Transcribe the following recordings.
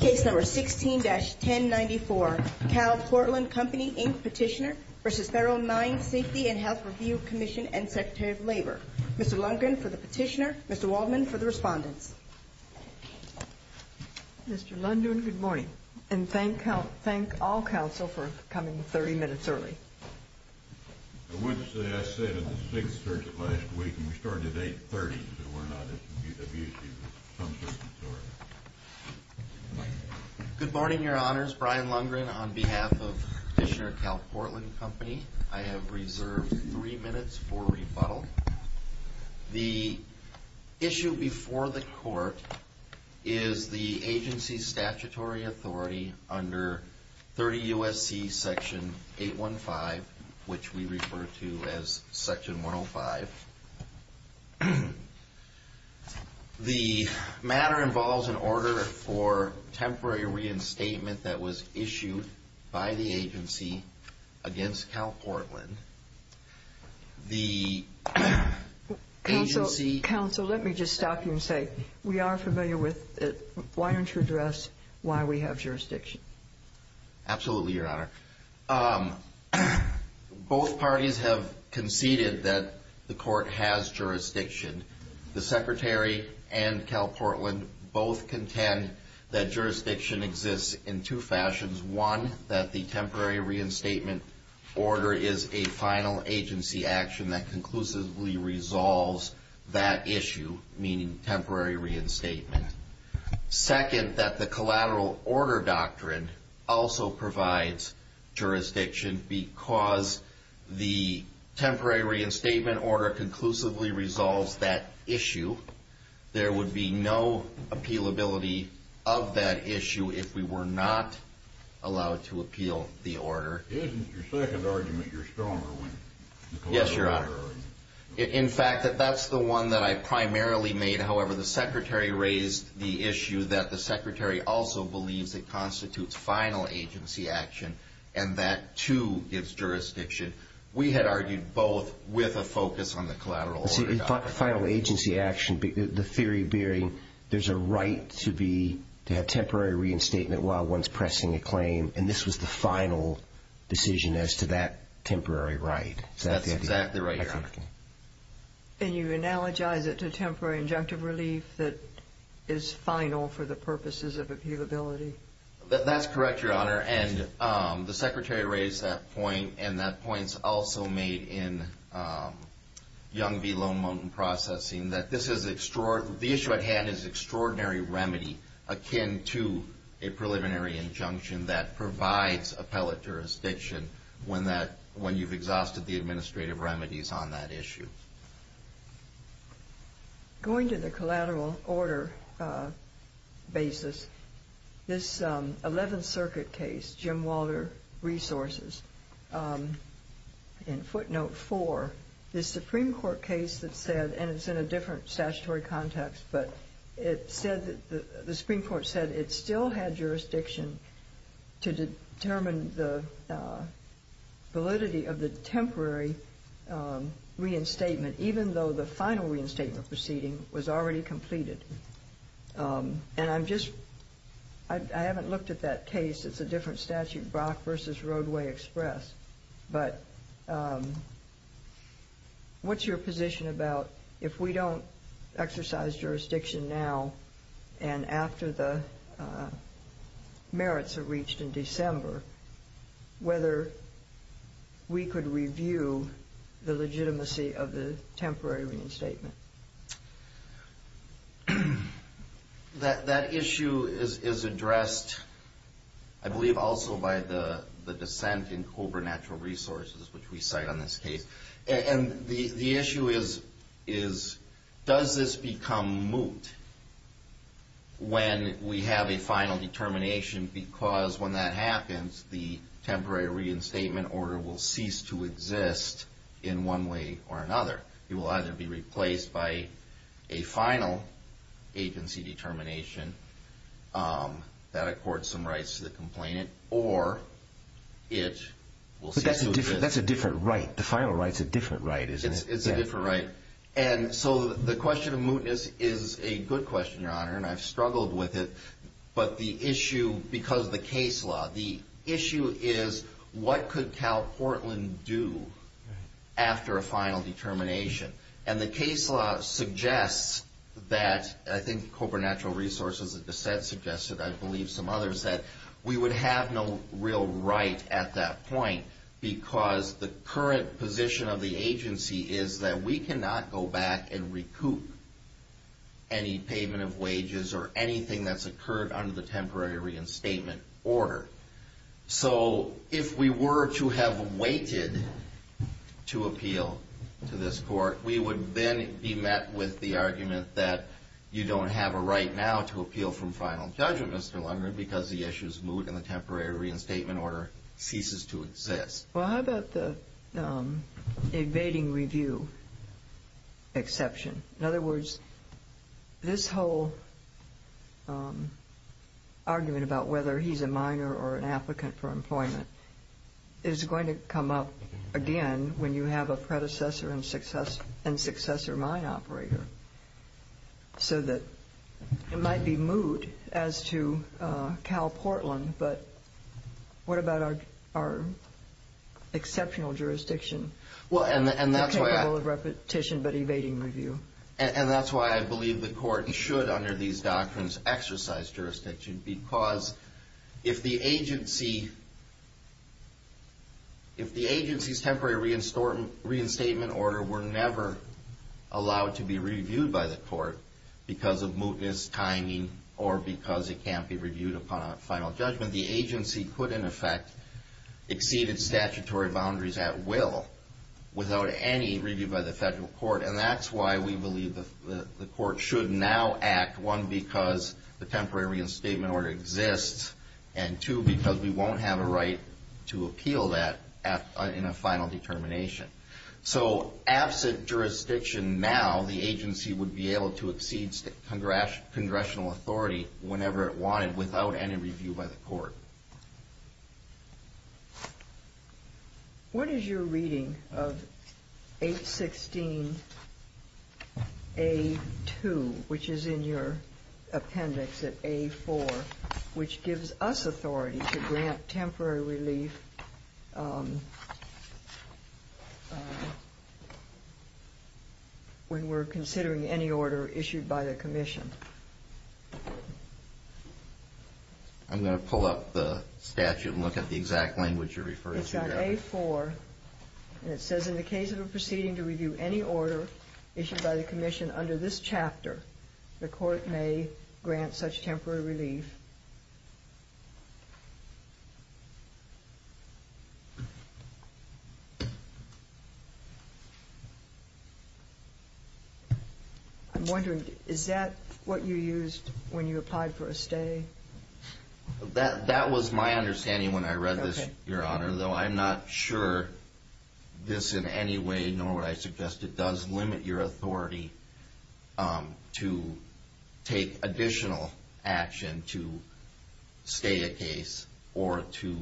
Case No. 16-1094, CalPortland Company, Inc. Petitioner v. Federal Mine Safety and Health Review Commission and Secretary of Labor. Mr. Lundgren for the petitioner. Mr. Waldman for the respondents. Mr. Lundgren, good morning. And thank all counsel for coming 30 minutes early. I wouldn't say I said it at 6 o'clock last week. We started at 8.30, so we're not at the beauty of some circumstances. Good morning, Your Honors. Brian Lundgren on behalf of Petitioner, CalPortland Company. I have reserved three minutes for rebuttal. The issue before the court is the agency's statutory authority under 30 U.S.C. Section 815, which we refer to as Section 105. The matter involves an order for temporary reinstatement that was issued by the agency against CalPortland. The agency... Counsel, let me just stop you and say, we are familiar with it. Why don't you address why we have jurisdiction? Absolutely, Your Honor. Both parties have conceded that the court has jurisdiction. The Secretary and CalPortland both contend that jurisdiction exists in two fashions. One, that the temporary reinstatement order is a final agency action that conclusively resolves that issue, meaning temporary reinstatement. Second, that the collateral order doctrine also provides jurisdiction because the temporary reinstatement order conclusively resolves that issue. There would be no appealability of that issue if we were not allowed to appeal the order. Isn't your second argument your stronger one? Yes, Your Honor. In fact, that's the one that I primarily made. However, the Secretary raised the issue that the Secretary also believes it constitutes final agency action and that, too, gives jurisdiction. We had argued both with a focus on the collateral order doctrine. Final agency action, the theory being there's a right to have temporary reinstatement while one's pressing a claim, and this was the final decision as to that temporary right. That's exactly right, Your Honor. And you analogize it to temporary injunctive relief that is final for the purposes of appealability? That's correct, Your Honor. And the Secretary raised that point, and that point's also made in Young v. Lone Mountain Processing, that this is extraordinary. The issue at hand is extraordinary remedy akin to a preliminary injunction that provides appellate jurisdiction when you've exhausted the administrative remedies on that issue. Going to the collateral order basis, this 11th Circuit case, Jim Walter Resources, in footnote 4, this Supreme Court case that said, and it's in a different statutory context, but it said that the Supreme Court said it still had jurisdiction to determine the validity of the temporary reinstatement. Even though the final reinstatement proceeding was already completed. And I'm just, I haven't looked at that case. It's a different statute, Brock v. Roadway Express. But what's your position about if we don't exercise jurisdiction now and after the merits are reached in December, whether we could review the legitimacy of the temporary reinstatement? That issue is addressed, I believe, also by the dissent in Cobra Natural Resources, which we cite on this case. And the issue is, does this become moot when we have a final determination because when that happens, the temporary reinstatement order will cease to exist in one way or another? It will either be replaced by a final agency determination that accords some rights to the complainant or it will cease to exist. But that's a different right. The final right is a different right, isn't it? It's a different right. And so the question of mootness is a good question, Your Honor, and I've struggled with it. But the issue, because of the case law, the issue is what could Cal Portland do after a final determination? And the case law suggests that, I think Cobra Natural Resources' dissent suggested, I believe some others, that we would have no real right at that point because the current position of the agency is that we cannot go back and recoup any payment of wages or anything that's occurred under the temporary reinstatement order. So if we were to have waited to appeal to this court, we would then be met with the argument that you don't have a right now to appeal from final judgment, Mr. Lundgren, because the issue is moot and the temporary reinstatement order ceases to exist. Well, how about the evading review exception? In other words, this whole argument about whether he's a minor or an applicant for employment is going to come up again when you have a predecessor and successor mine operator. So that it might be moot as to Cal Portland, but what about our exceptional jurisdiction? And that's why I believe the court should, under these doctrines, exercise jurisdiction because if the agency's temporary reinstatement order were never allowed to be reviewed by the court because of mootness, timing, or because it can't be reviewed upon a final judgment, the agency could, in effect, exceed its statutory boundaries at will. Without any review by the federal court, and that's why we believe the court should now act, one, because the temporary reinstatement order exists, and two, because we won't have a right to appeal that in a final determination. So absent jurisdiction now, the agency would be able to exceed congressional authority whenever it wanted without any review by the court. What is your reading of 816A2, which is in your appendix at A4, which gives us authority to grant temporary relief when we're considering any order issued by the commission? I'm going to pull up the statute and look at the exact language you're referring to. It's on A4, and it says, in the case of a proceeding to review any order issued by the commission under this chapter, the court may grant such temporary relief. I'm wondering, is that what you used when you applied for a stay? That was my understanding when I read this, Your Honor, though I'm not sure this in any way, nor would I suggest it, does limit your authority to take additional action to stay a case or to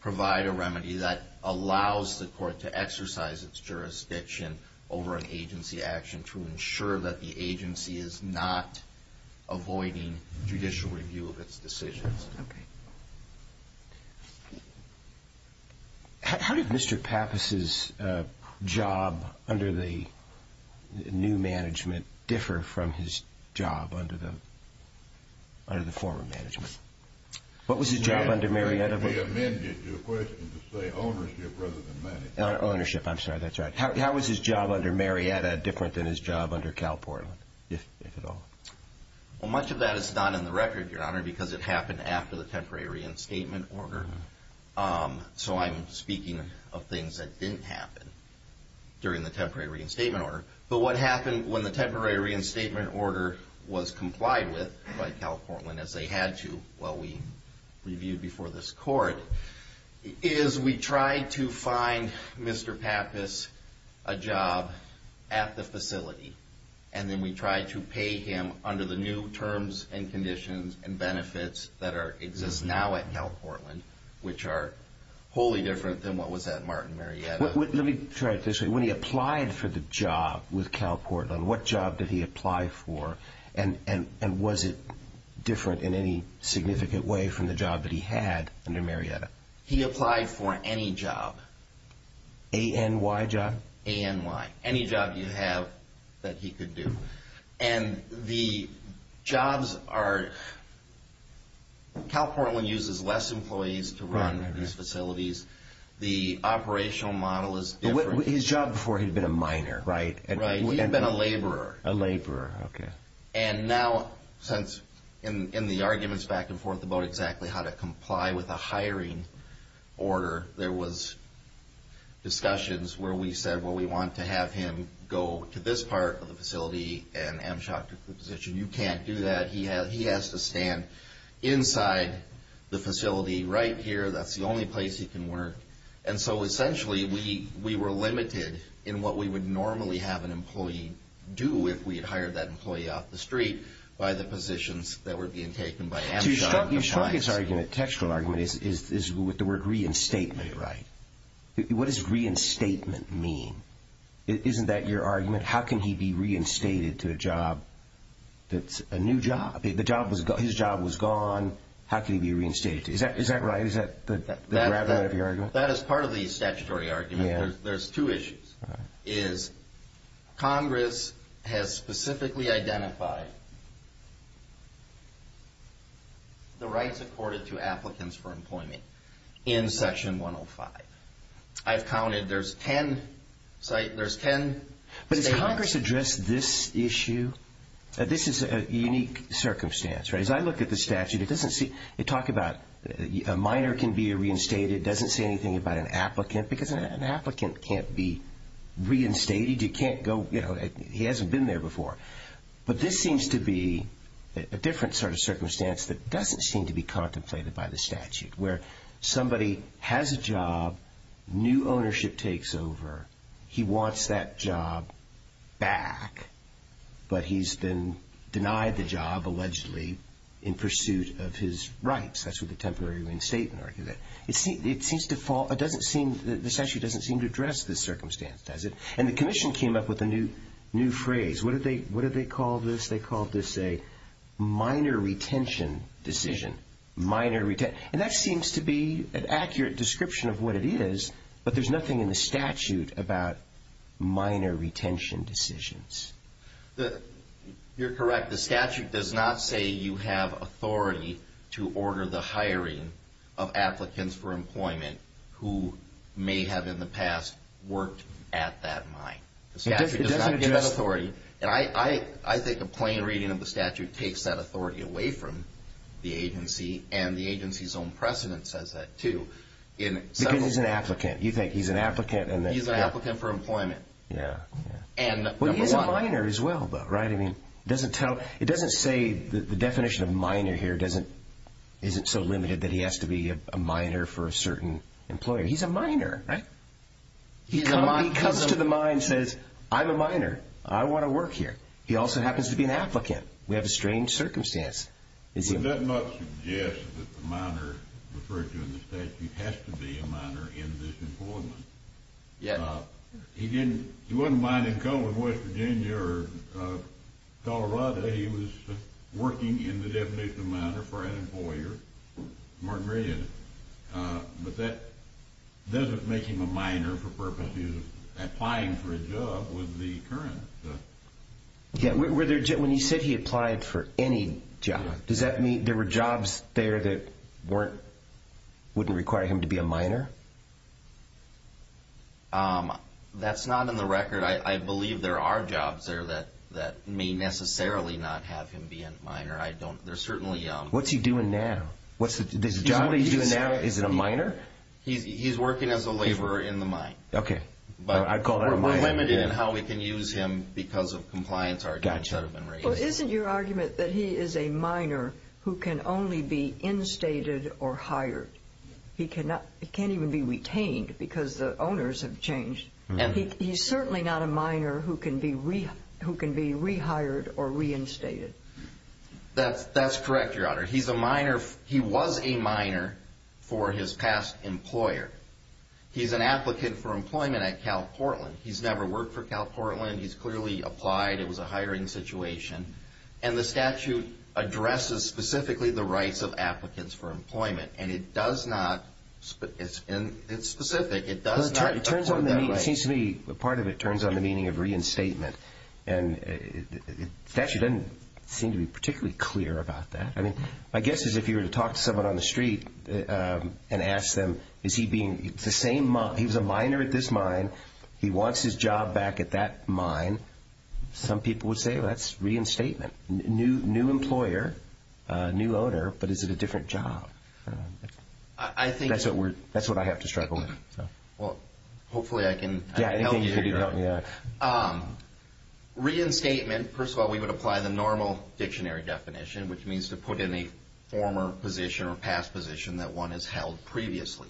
provide a remedy that allows the court to exercise its jurisdiction over an agency action to ensure that the agency is not avoiding judicial review of its case. How did Mr. Pappas' job under the new management differ from his job under the former management? What was his job under Marietta? We amended your question to say ownership rather than management. Ownership, I'm sorry, that's right. How was his job under Marietta different than his job under Cal Portland, if at all? Well, much of that is not in the record, Your Honor, because it happened after the temporary reinstatement order. So I'm speaking of things that didn't happen during the temporary reinstatement order. But what happened when the temporary reinstatement order was complied with by Cal Portland, as they had to while we reviewed before this court, is we tried to find Mr. Pappas a job at the facility. And then we tried to pay him under the new terms and conditions and benefits that exist now at Cal Portland, which are wholly different than what was at Martin Marietta. Let me try it this way. When he applied for the job with Cal Portland, what job did he apply for? And was it different in any significant way from the job that he had under Marietta? He applied for any job. ANY job? ANY. Any job you have that he could do. And the jobs are – Cal Portland uses less employees to run these facilities. The operational model is different. But his job before, he had been a miner, right? Right. He had been a laborer. A laborer, okay. And now, since in the arguments back and forth about exactly how to comply with a hiring order, there was discussions where we said, well, we want to have him go to this part of the facility and Amtchak took the position. You can't do that. He has to stand inside the facility right here. That's the only place he can work. And so essentially, we were limited in what we would normally have an employee do if we had hired that employee off the street by the positions that were being taken by Amtchak. You struck his argument, textual argument, with the word reinstatement, right? What does reinstatement mean? Isn't that your argument? How can he be reinstated to a job that's a new job? His job was gone. How can he be reinstated? Is that right? Is that the gravity of your argument? That is part of the statutory argument. There's two issues, is Congress has specifically identified the rights accorded to applicants for employment in Section 105. I've counted. There's ten statements. But has Congress addressed this issue? This is a unique circumstance, right? As I look at the statute, it talks about a minor can be reinstated. It doesn't say anything about an applicant because an applicant can't be reinstated. You can't go, you know, he hasn't been there before. But this seems to be a different sort of circumstance that doesn't seem to be contemplated by the statute where somebody has a job, new ownership takes over. He wants that job back, but he's been denied the job allegedly in pursuit of his rights. That's what the temporary reinstatement argument is. It seems to fall, it doesn't seem, the statute doesn't seem to address this circumstance, does it? And the commission came up with a new phrase. What did they call this? They called this a minor retention decision. And that seems to be an accurate description of what it is, but there's nothing in the statute about minor retention decisions. You're correct. The statute does not say you have authority to order the hiring of applicants for employment who may have in the past worked at that mine. The statute does not give that authority. And I think a plain reading of the statute takes that authority away from the agency, and the agency's own precedent says that, too. Because he's an applicant. You think he's an applicant. He's an applicant for employment. Yeah, yeah. And number one. Well, he's a minor as well, though, right? I mean, it doesn't tell, it doesn't say, the definition of minor here isn't so limited that he has to be a minor for a certain employer. He's a minor, right? He comes to the mine and says, I'm a minor. I want to work here. He also happens to be an applicant. We have a strange circumstance. Would that not suggest that the minor referred to in the statute has to be a minor in this employment? Yeah. He didn't, he wasn't mining coal in West Virginia or Colorado. He was working in the definition of minor for an employer, Martin Meridian. But that doesn't make him a minor for purposes of applying for a job with the current. Yeah, when you said he applied for any job, does that mean there were jobs there that wouldn't require him to be a minor? That's not in the record. I believe there are jobs there that may necessarily not have him be a minor. I don't, there's certainly. What's he doing now? What's the job he's doing now? Is it a minor? He's working as a laborer in the mine. Okay. But we're limited in how we can use him because of compliance arguments that have been raised. Well, isn't your argument that he is a minor who can only be instated or hired? He cannot, he can't even be retained because the owners have changed. He's certainly not a minor who can be rehired or reinstated. That's correct, Your Honor. He's a minor, he was a minor for his past employer. He's an applicant for employment at Cal Portland. He's never worked for Cal Portland. He's clearly applied. It was a hiring situation. And the statute addresses specifically the rights of applicants for employment. And it does not, it's specific. It seems to me part of it turns on the meaning of reinstatement. And the statute doesn't seem to be particularly clear about that. I mean, my guess is if you were to talk to someone on the street and ask them, is he being the same, he was a minor at this mine, he wants his job back at that mine, some people would say, well, that's reinstatement. New employer, new owner, but is it a different job? That's what I have to struggle with. Well, hopefully I can help you here, Your Honor. Reinstatement, first of all, we would apply the normal dictionary definition, which means to put in a former position or past position that one has held previously.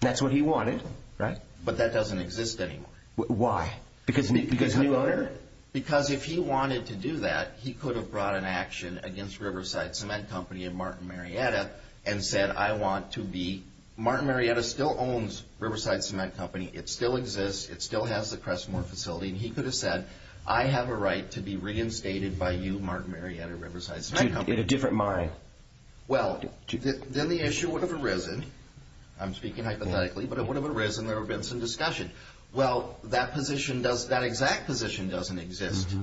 That's what he wanted, right? But that doesn't exist anymore. Why? Because new owner? Because if he wanted to do that, he could have brought an action against Riverside Cement Company and Martin Marietta and said, I want to be Martin Marietta still owns Riverside Cement Company. It still exists. It still has the Crestmore facility. And he could have said, I have a right to be reinstated by you, Martin Marietta, Riverside Cement Company. In a different mine. Well, then the issue would have arisen. I'm speaking hypothetically, but it would have arisen. There would have been some discussion. Well, that exact position doesn't exist,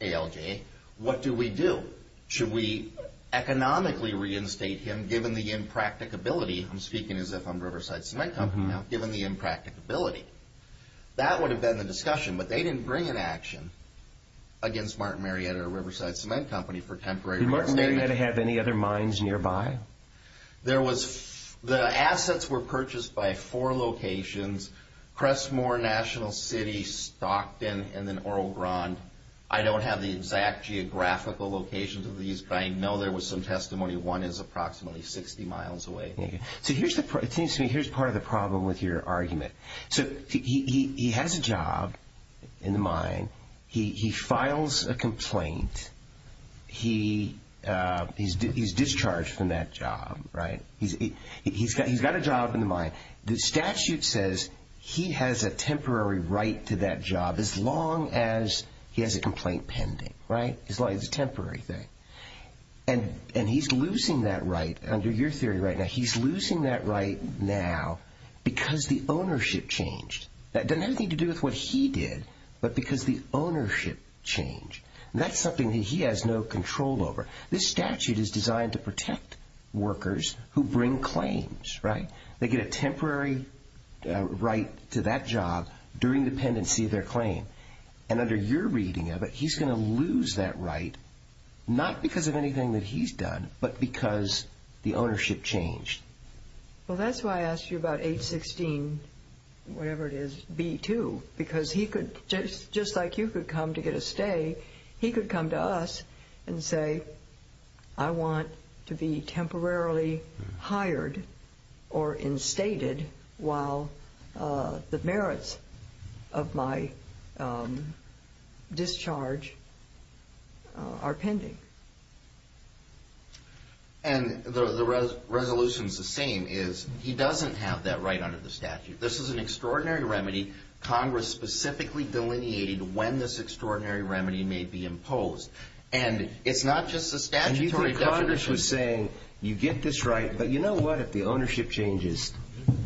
ALJ. What do we do? Should we economically reinstate him given the impracticability? I'm speaking as if I'm Riverside Cement Company now, given the impracticability. That would have been the discussion, but they didn't bring an action against Martin Marietta or Riverside Cement Company for temporary reinstatement. Did Martin Marietta have any other mines nearby? The assets were purchased by four locations, Crestmore, National City, Stockton, and then Oro Grande. I don't have the exact geographical locations of these, but I know there was some testimony one is approximately 60 miles away. So here's part of the problem with your argument. So he has a job in the mine. He files a complaint. He's discharged from that job, right? He's got a job in the mine. The statute says he has a temporary right to that job as long as he has a complaint pending, right? As long as it's a temporary thing. And he's losing that right under your theory right now. He's losing that right now because the ownership changed. That doesn't have anything to do with what he did, but because the ownership changed. That's something that he has no control over. This statute is designed to protect workers who bring claims, right? They get a temporary right to that job during the pendency of their claim. And under your reading of it, he's going to lose that right, not because of anything that he's done, but because the ownership changed. Well, that's why I asked you about 816 whatever it is, B2, because he could, just like you could come to get a stay, he could come to us and say, I want to be temporarily hired or instated while the merits of my discharge are pending. And the resolution's the same, is he doesn't have that right under the statute. This is an extraordinary remedy. Congress specifically delineated when this extraordinary remedy may be imposed. And it's not just the statutory definition. And you think Congress was saying, you get this right, but you know what, if the ownership changes,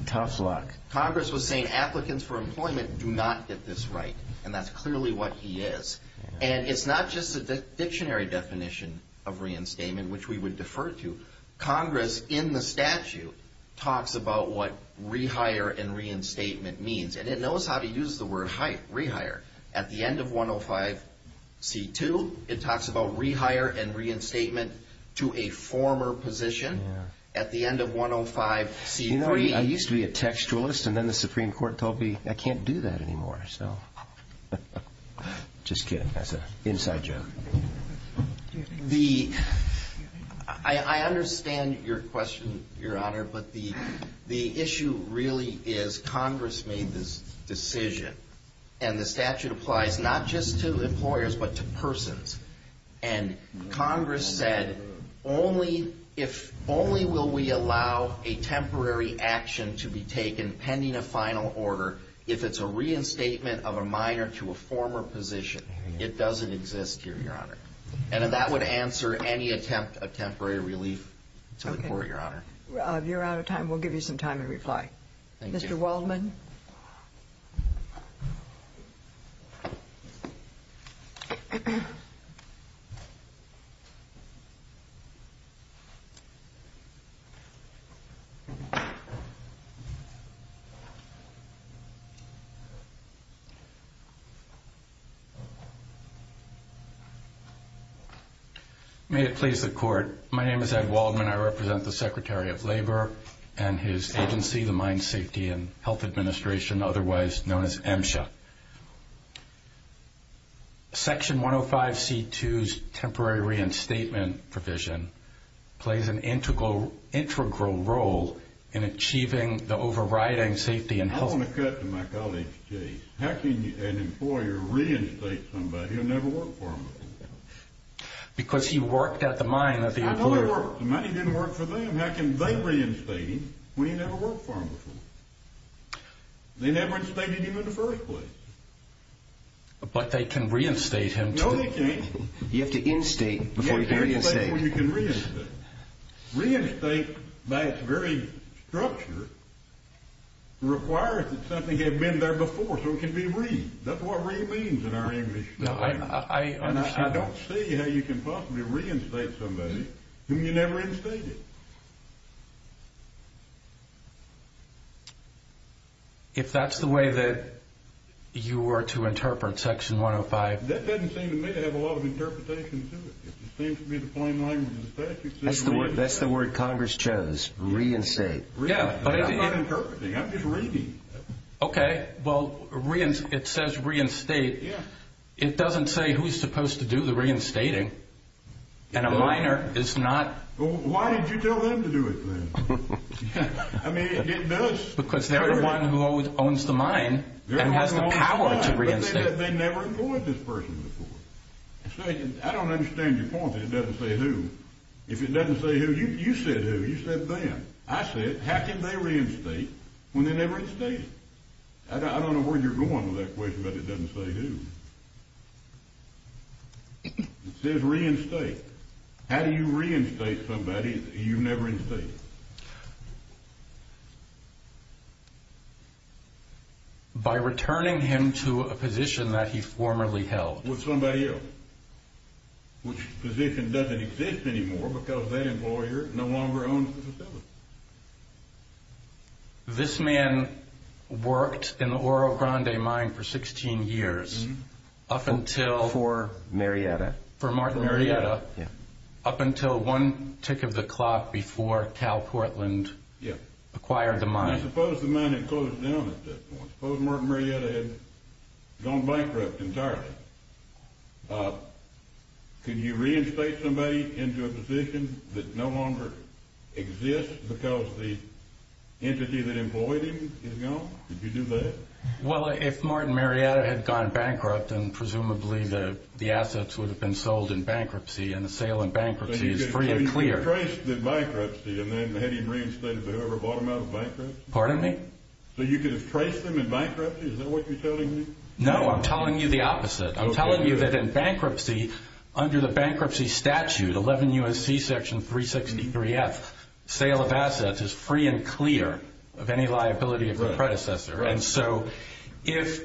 tough luck. Congress was saying applicants for employment do not get this right, and that's clearly what he is. And it's not just the dictionary definition of reinstatement, which we would defer to. Congress in the statute talks about what rehire and reinstatement means. And it knows how to use the word rehire. At the end of 105C2, it talks about rehire and reinstatement to a former position. At the end of 105C3. You know, I used to be a textualist, and then the Supreme Court told me, I can't do that anymore. Just kidding. That's an inside joke. I understand your question, Your Honor, but the issue really is Congress made this decision, and the statute applies not just to employers, but to persons. And Congress said, only will we allow a temporary action to be taken pending a final order if it's a reinstatement of a minor to a former position. It doesn't exist here, Your Honor. And that would answer any attempt of temporary relief to the Court, Your Honor. Rob, you're out of time. We'll give you some time to reply. Mr. Waldman. May it please the Court. My name is Ed Waldman. I represent the Secretary of Labor and his agency, the Mine Safety and Health Administration, otherwise known as MSHA. Section 105C2's temporary reinstatement provision plays an integral role in achieving the overriding safety and health. I want to cut to my colleague, Chase. How can an employer reinstate somebody who never worked for him? Because he worked at the mine. The mine didn't work for them. How can they reinstate him when he never worked for them before? They never instated him in the first place. But they can reinstate him. No, they can't. You have to instate before you can reinstate. You have to reinstate before you can reinstate. Reinstate by its very structure requires that something had been there before, so it can be re-instated. That's what re-instated means in our English language. I don't see how you can possibly reinstate somebody whom you never instated. If that's the way that you were to interpret Section 105. That doesn't seem to me to have a lot of interpretation to it. It seems to be the plain language of the statute. That's the word Congress chose, reinstate. Yeah, but it's not interpreting. I'm just reading. Okay, well, it says reinstate. It doesn't say who's supposed to do the reinstating, and a minor is not. Why did you tell them to do it then? I mean, it does. Because they're the one who owns the mine and has the power to reinstate. But they never employed this person before. I don't understand your point that it doesn't say who. If it doesn't say who, you said who. You said them. I said how can they reinstate when they never instated? I don't know where you're going with that question, but it doesn't say who. It says reinstate. How do you reinstate somebody you never instated? By returning him to a position that he formerly held. With somebody else. Which position doesn't exist anymore because that employer no longer owns the facility. This man worked in the Oro Grande mine for 16 years. For Marietta. For Martin Marietta. Up until one tick of the clock before Cal Portland acquired the mine. Suppose the mine had closed down at that point. Suppose Martin Marietta had gone bankrupt entirely. Could you reinstate somebody into a position that no longer exists because the entity that employed him is gone? Could you do that? Well, if Martin Marietta had gone bankrupt, then presumably the assets would have been sold in bankruptcy. And the sale in bankruptcy is free and clear. So you could have traced the bankruptcy and then had him reinstated to whoever bought him out of bankruptcy? Pardon me? So you could have traced them in bankruptcy? Is that what you're telling me? No, I'm telling you the opposite. I'm telling you that in bankruptcy, under the bankruptcy statute, 11 U.S.C. section 363F, sale of assets is free and clear of any liability of the predecessor. And so if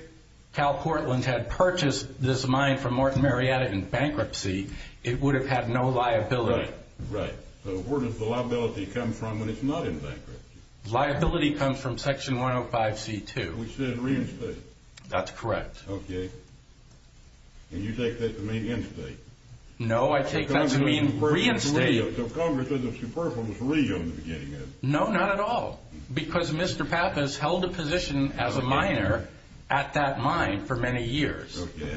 Cal Portland had purchased this mine from Martin Marietta in bankruptcy, it would have had no liability. Right. So where does the liability come from when it's not in bankruptcy? Liability comes from section 105C2. We should have reinstated him. That's correct. Okay. And you take that to mean instate? No, I take that to mean reinstate. So Congress is a superfluous rego in the beginning, then? No, not at all, because Mr. Pappas held a position as a miner at that mine for many years. Okay.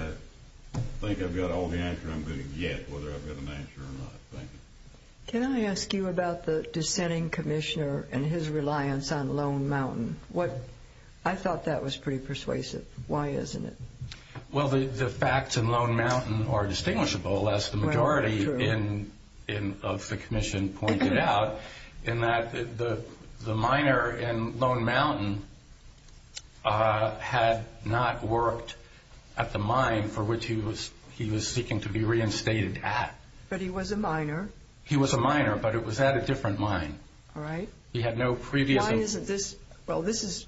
I think I've got all the answers I'm going to get, whether I've got an answer or not. Thank you. Can I ask you about the dissenting commissioner and his reliance on Lone Mountain? I thought that was pretty persuasive. Why isn't it? Well, the facts in Lone Mountain are distinguishable, as the majority of the commission pointed out, in that the miner in Lone Mountain had not worked at the mine for which he was seeking to be reinstated at. But he was a miner. He was a miner, but it was at a different mine. All right. Why isn't this? Well, this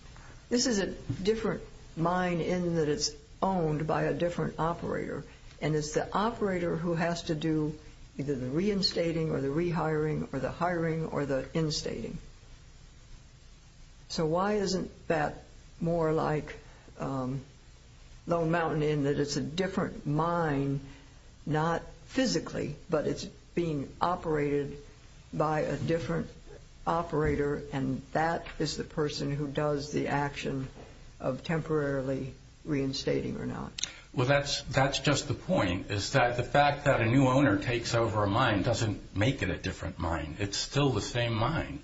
is a different mine in that it's owned by a different operator, and it's the operator who has to do either the reinstating or the rehiring or the hiring or the instating. So why isn't that more like Lone Mountain in that it's a different mine, not physically, but it's being operated by a different operator, and that is the person who does the action of temporarily reinstating or not? Well, that's just the point, is that the fact that a new owner takes over a mine doesn't make it a different mine. It's still the same mine.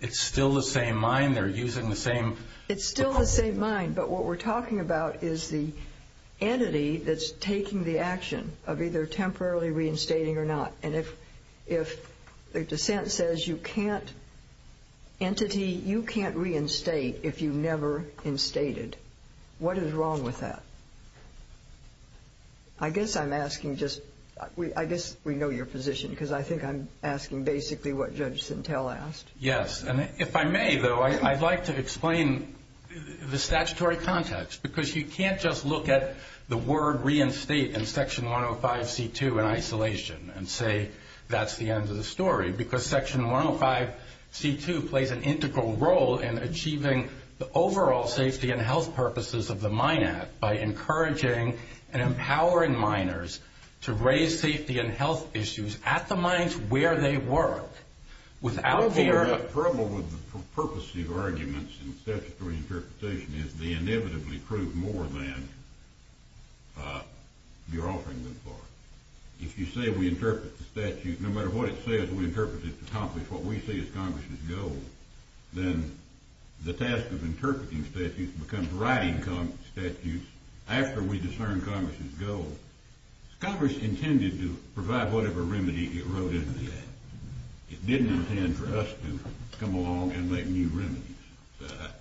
It's still the same mine. They're using the same equipment. It's still the same mine, but what we're talking about is the entity that's taking the action of either temporarily reinstating or not. And if the dissent says you can't entity, you can't reinstate if you've never instated, what is wrong with that? I guess I'm asking just, I guess we know your position because I think I'm asking basically what Judge Sintel asked. Yes, and if I may, though, I'd like to explain the statutory context because you can't just look at the word reinstate in Section 105C2 in isolation and say that's the end of the story because Section 105C2 plays an integral role in achieving the overall safety and health purposes of the Mine Act by encouraging and empowering miners to raise safety and health issues at the mines where they work The trouble with purposive arguments in statutory interpretation is they inevitably prove more than you're offering them for. If you say we interpret the statute, no matter what it says, we interpret it to accomplish what we see as Congress's goal, then the task of interpreting statutes becomes writing statutes after we discern Congress's goal. Congress intended to provide whatever remedy it wrote in the Act. It didn't intend for us to come along and make new remedies.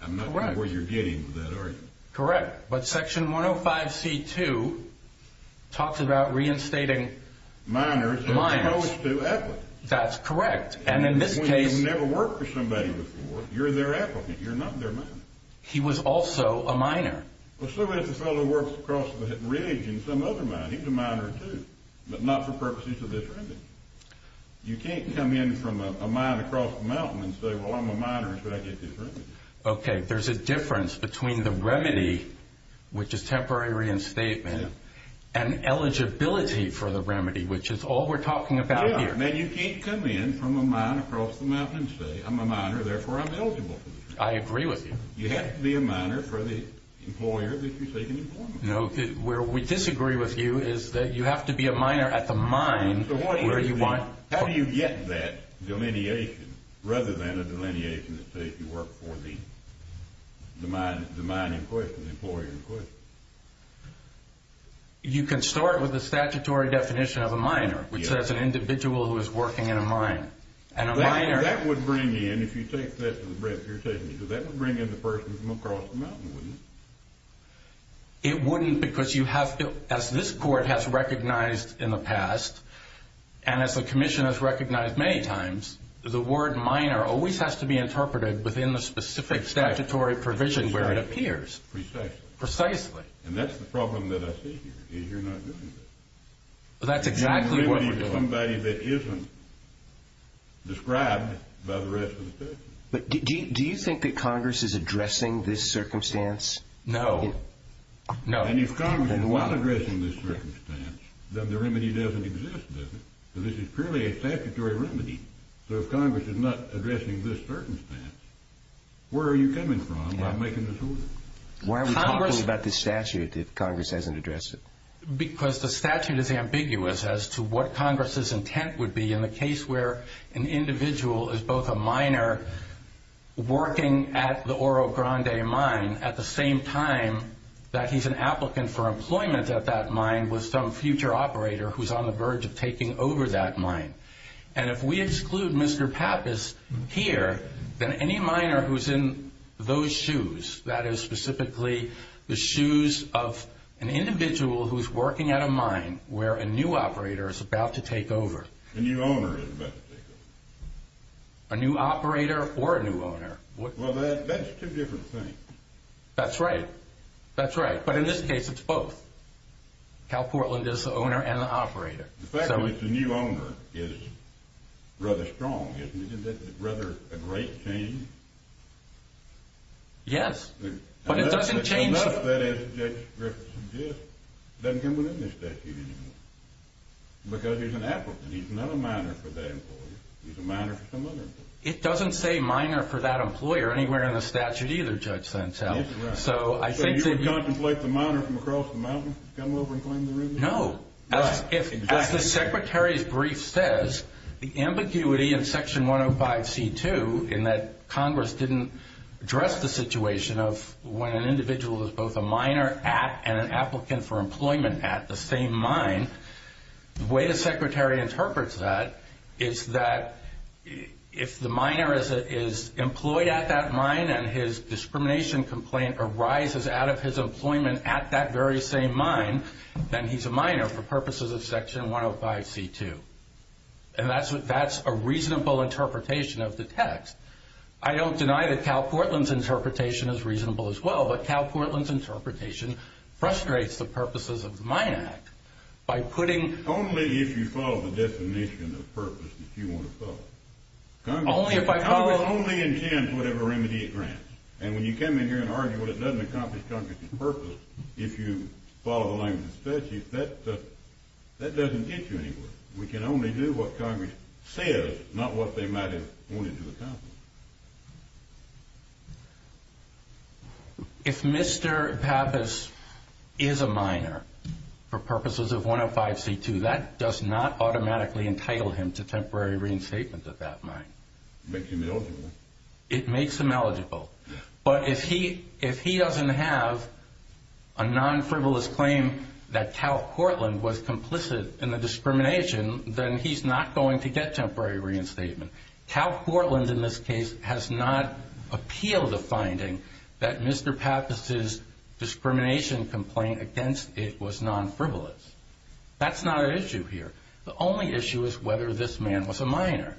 I'm not sure where you're getting with that argument. Correct, but Section 105C2 talks about reinstating miners as opposed to applicants. That's correct, and in this case... When you've never worked for somebody before, you're their applicant. You're not their miner. He was also a miner. Well, so was the fellow who worked across the ridge in some other mine. He was a miner, too, but not for purposes of this remedy. You can't come in from a mine across the mountain and say, well, I'm a miner, so I get this remedy. Okay, there's a difference between the remedy, which is temporary reinstatement, and eligibility for the remedy, which is all we're talking about here. Yeah, and you can't come in from a mine across the mountain and say, I'm a miner, therefore I'm eligible for this remedy. I agree with you. You have to be a miner for the employer that you're seeking employment for. No, where we disagree with you is that you have to be a miner at the mine where you want. How do you get that delineation, rather than a delineation that says you work for the mine in question, the employer in question? You can start with the statutory definition of a miner, which says an individual who is working in a mine. That would bring in, if you take that to the breadth of your testimony, that would bring in the person from across the mountain, wouldn't it? It wouldn't because you have to, as this court has recognized in the past, and as the commission has recognized many times, the word miner always has to be interpreted within the specific statutory provision where it appears. Precisely. Precisely. And that's the problem that I see here is you're not doing that. That's exactly what we're doing. Somebody that isn't described by the rest of the testimony. Do you think that Congress is addressing this circumstance? No. No. And if Congress is not addressing this circumstance, then the remedy doesn't exist, does it? This is purely a statutory remedy. So if Congress is not addressing this circumstance, where are you coming from by making this order? Why are we talking about this statute if Congress hasn't addressed it? Because the statute is ambiguous as to what Congress's intent would be in the case where an individual is both a miner working at the Oro Grande mine at the same time that he's an applicant for employment at that mine with some future operator who's on the verge of taking over that mine. And if we exclude Mr. Pappas here, then any miner who's in those shoes, that is specifically the shoes of an individual who's working at a mine where a new operator is about to take over. A new owner is about to take over. A new operator or a new owner. Well, that's two different things. That's right. That's right. But in this case, it's both. Cal Portland is the owner and the operator. The fact that it's a new owner is rather strong, isn't it? Isn't that rather a great change? Yes. But it doesn't change... Enough that as Judge Griffiths suggests, it doesn't come within the statute anymore. Because he's an applicant. He's not a miner for that employer. He's a miner for some other employer. It doesn't say miner for that employer anywhere in the statute either, Judge Santel. That's right. So I think... So you would contemplate the miner from across the mountain come over and claim the ruby? No. Right. As the Secretary's brief says, the ambiguity in Section 105C2, in that Congress didn't address the situation of when an individual is both a miner and an applicant for employment at the same mine, the way the Secretary interprets that is that if the miner is employed at that mine and his discrimination complaint arises out of his employment at that very same mine, then he's a miner for purposes of Section 105C2. And that's a reasonable interpretation of the text. I don't deny that Cal Portland's interpretation is reasonable as well, but Cal Portland's interpretation frustrates the purposes of the Mine Act by putting... Only if you follow the definition of purpose that you want to follow. Congress... Only if I follow... Congress only intends whatever remedy it grants. And when you come in here and argue that it doesn't accomplish Congress's purpose if you follow the language of state, that doesn't get you anywhere. We can only do what Congress says, not what they might have wanted to accomplish. If Mr. Pappas is a miner for purposes of 105C2, that does not automatically entitle him to temporary reinstatement at that mine. It makes him eligible. But if he doesn't have a non-frivolous claim that Cal Portland was complicit in the discrimination, then he's not going to get temporary reinstatement. Cal Portland, in this case, has not appealed a finding that Mr. Pappas' discrimination complaint against it was non-frivolous. That's not an issue here. The only issue is whether this man was a miner.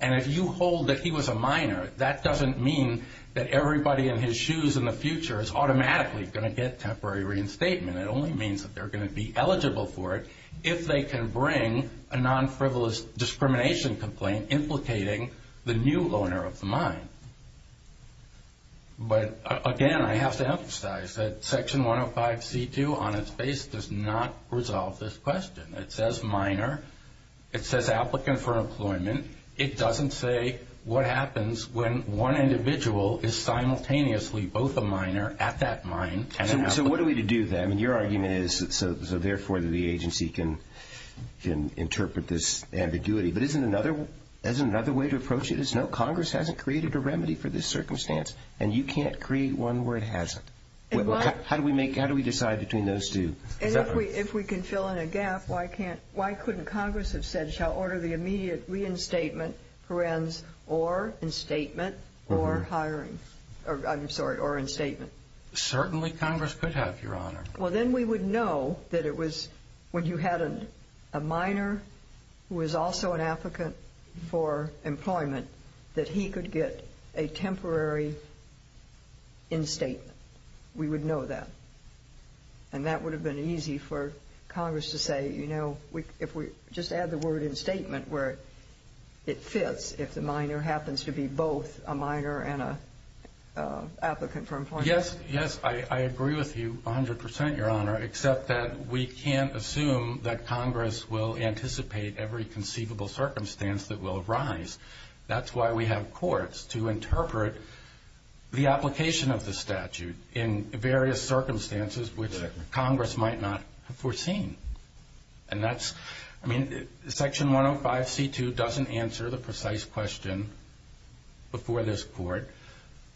And if you hold that he was a miner, that doesn't mean that everybody in his shoes in the future is automatically going to get temporary reinstatement. It only means that they're going to be eligible for it if they can bring a non-frivolous discrimination complaint implicating the new owner of the mine. But, again, I have to emphasize that Section 105C2, on its base, does not resolve this question. It says miner. It says applicant for employment. It doesn't say what happens when one individual is simultaneously both a miner at that mine and an applicant. So what are we to do then? Your argument is, therefore, that the agency can interpret this ambiguity. But isn't another way to approach it? No, Congress hasn't created a remedy for this circumstance, and you can't create one where it hasn't. How do we decide between those two? And if we can fill in a gap, why couldn't Congress have said, shall order the immediate reinstatement, or reinstatement, or hiring? I'm sorry, or reinstatement. Certainly, Congress could have, Your Honor. Well, then we would know that it was when you had a miner who was also an applicant for employment that he could get a temporary reinstatement. We would know that. And that would have been easy for Congress to say, you know, if we just add the word instatement where it fits, if the miner happens to be both a miner and an applicant for employment. Yes, yes, I agree with you 100%, Your Honor, except that we can't assume that Congress will anticipate every conceivable circumstance that will arise. That's why we have courts to interpret the application of the statute in various circumstances which Congress might not have foreseen. And that's, I mean, Section 105c2 doesn't answer the precise question before this Court.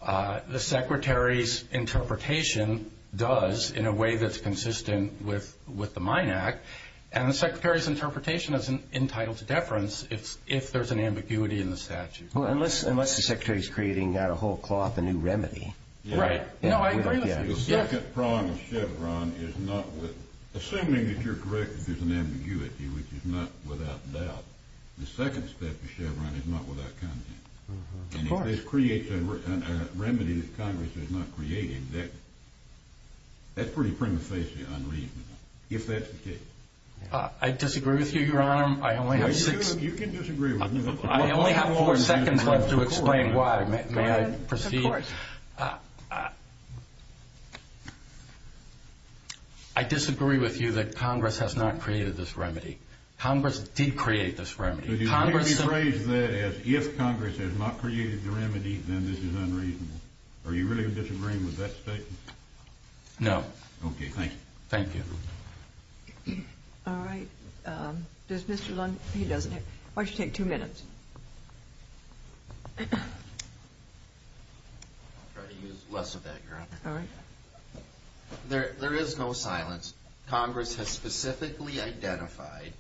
The Secretary's interpretation does, in a way that's consistent with the Mine Act, and the Secretary's interpretation is entitled to deference if there's an ambiguity in the statute. Unless the Secretary's creating a whole cloth, a new remedy. Right. No, I agree with you. The second prong of Chevron is not with, assuming that you're correct if there's an ambiguity, which is not without doubt, the second step of Chevron is not without content. And if this creates a remedy that Congress is not creating, that's pretty prima facie unreasonable, if that's the case. I disagree with you, Your Honor. I only have six. You can disagree with me. I only have four seconds left to explain why. Your Honor, may I proceed? Of course. I disagree with you that Congress has not created this remedy. Congress did create this remedy. But you want to rephrase that as, if Congress has not created the remedy, then this is unreasonable. Are you really disagreeing with that statement? No. Okay, thank you. Thank you. All right. Does Mr. Lund, he doesn't have, why don't you take two minutes? I'll try to use less of that, Your Honor. All right. There is no silence. Congress has specifically identified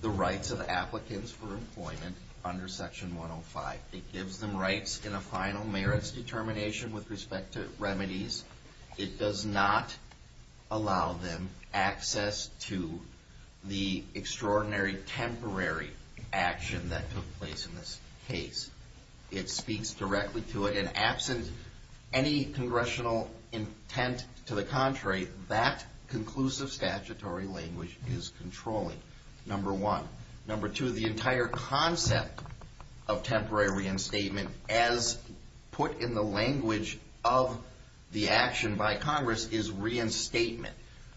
the rights of applicants for employment under Section 105. It gives them rights in a final merits determination with respect to remedies. It does not allow them access to the extraordinary temporary action that took place in this case. It speaks directly to it, and absent any congressional intent to the contrary, that conclusive statutory language is controlling, number one. Number two, the entire concept of temporary reinstatement, as put in the language of the action by Congress, is reinstatement,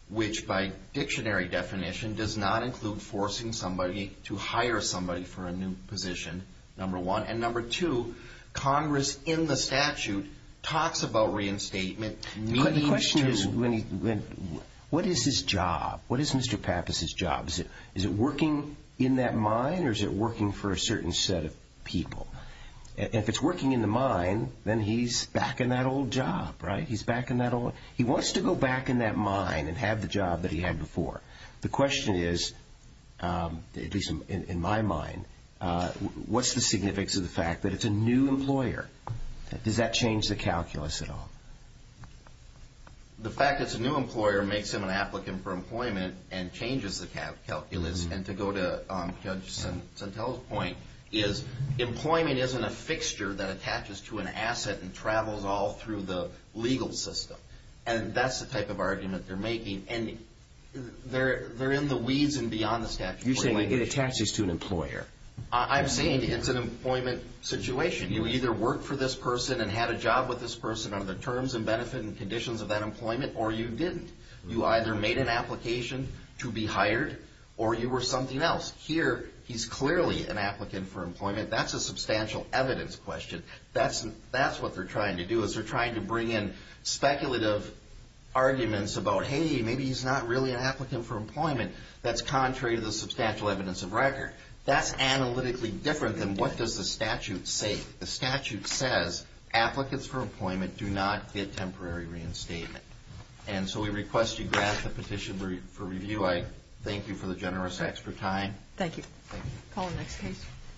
which by dictionary definition does not include forcing somebody to hire somebody for a new position, number one. And number two, Congress in the statute talks about reinstatement. But the question is, what is his job? What is Mr. Pappas' job? Is it working in that mine, or is it working for a certain set of people? If it's working in the mine, then he's back in that old job, right? He's back in that old job. He wants to go back in that mine and have the job that he had before. The question is, at least in my mind, what's the significance of the fact that it's a new employer? Does that change the calculus at all? The fact that it's a new employer makes him an applicant for employment and changes the calculus. And to go to Judge Santella's point, is employment isn't a fixture that attaches to an asset and travels all through the legal system. And that's the type of argument they're making. And they're in the weeds and beyond the statute. You're saying it attaches to an employer. I'm saying it's an employment situation. You either worked for this person and had a job with this person under the terms and benefit and conditions of that employment, or you didn't. You either made an application to be hired, or you were something else. Here, he's clearly an applicant for employment. That's a substantial evidence question. That's what they're trying to do, is they're trying to bring in speculative arguments about, hey, maybe he's not really an applicant for employment. That's contrary to the substantial evidence of record. That's analytically different than what does the statute say. The statute says applicants for employment do not get temporary reinstatement. And so we request you grant the petition for review. I thank you for the generous extra time. Thank you. Call the next case.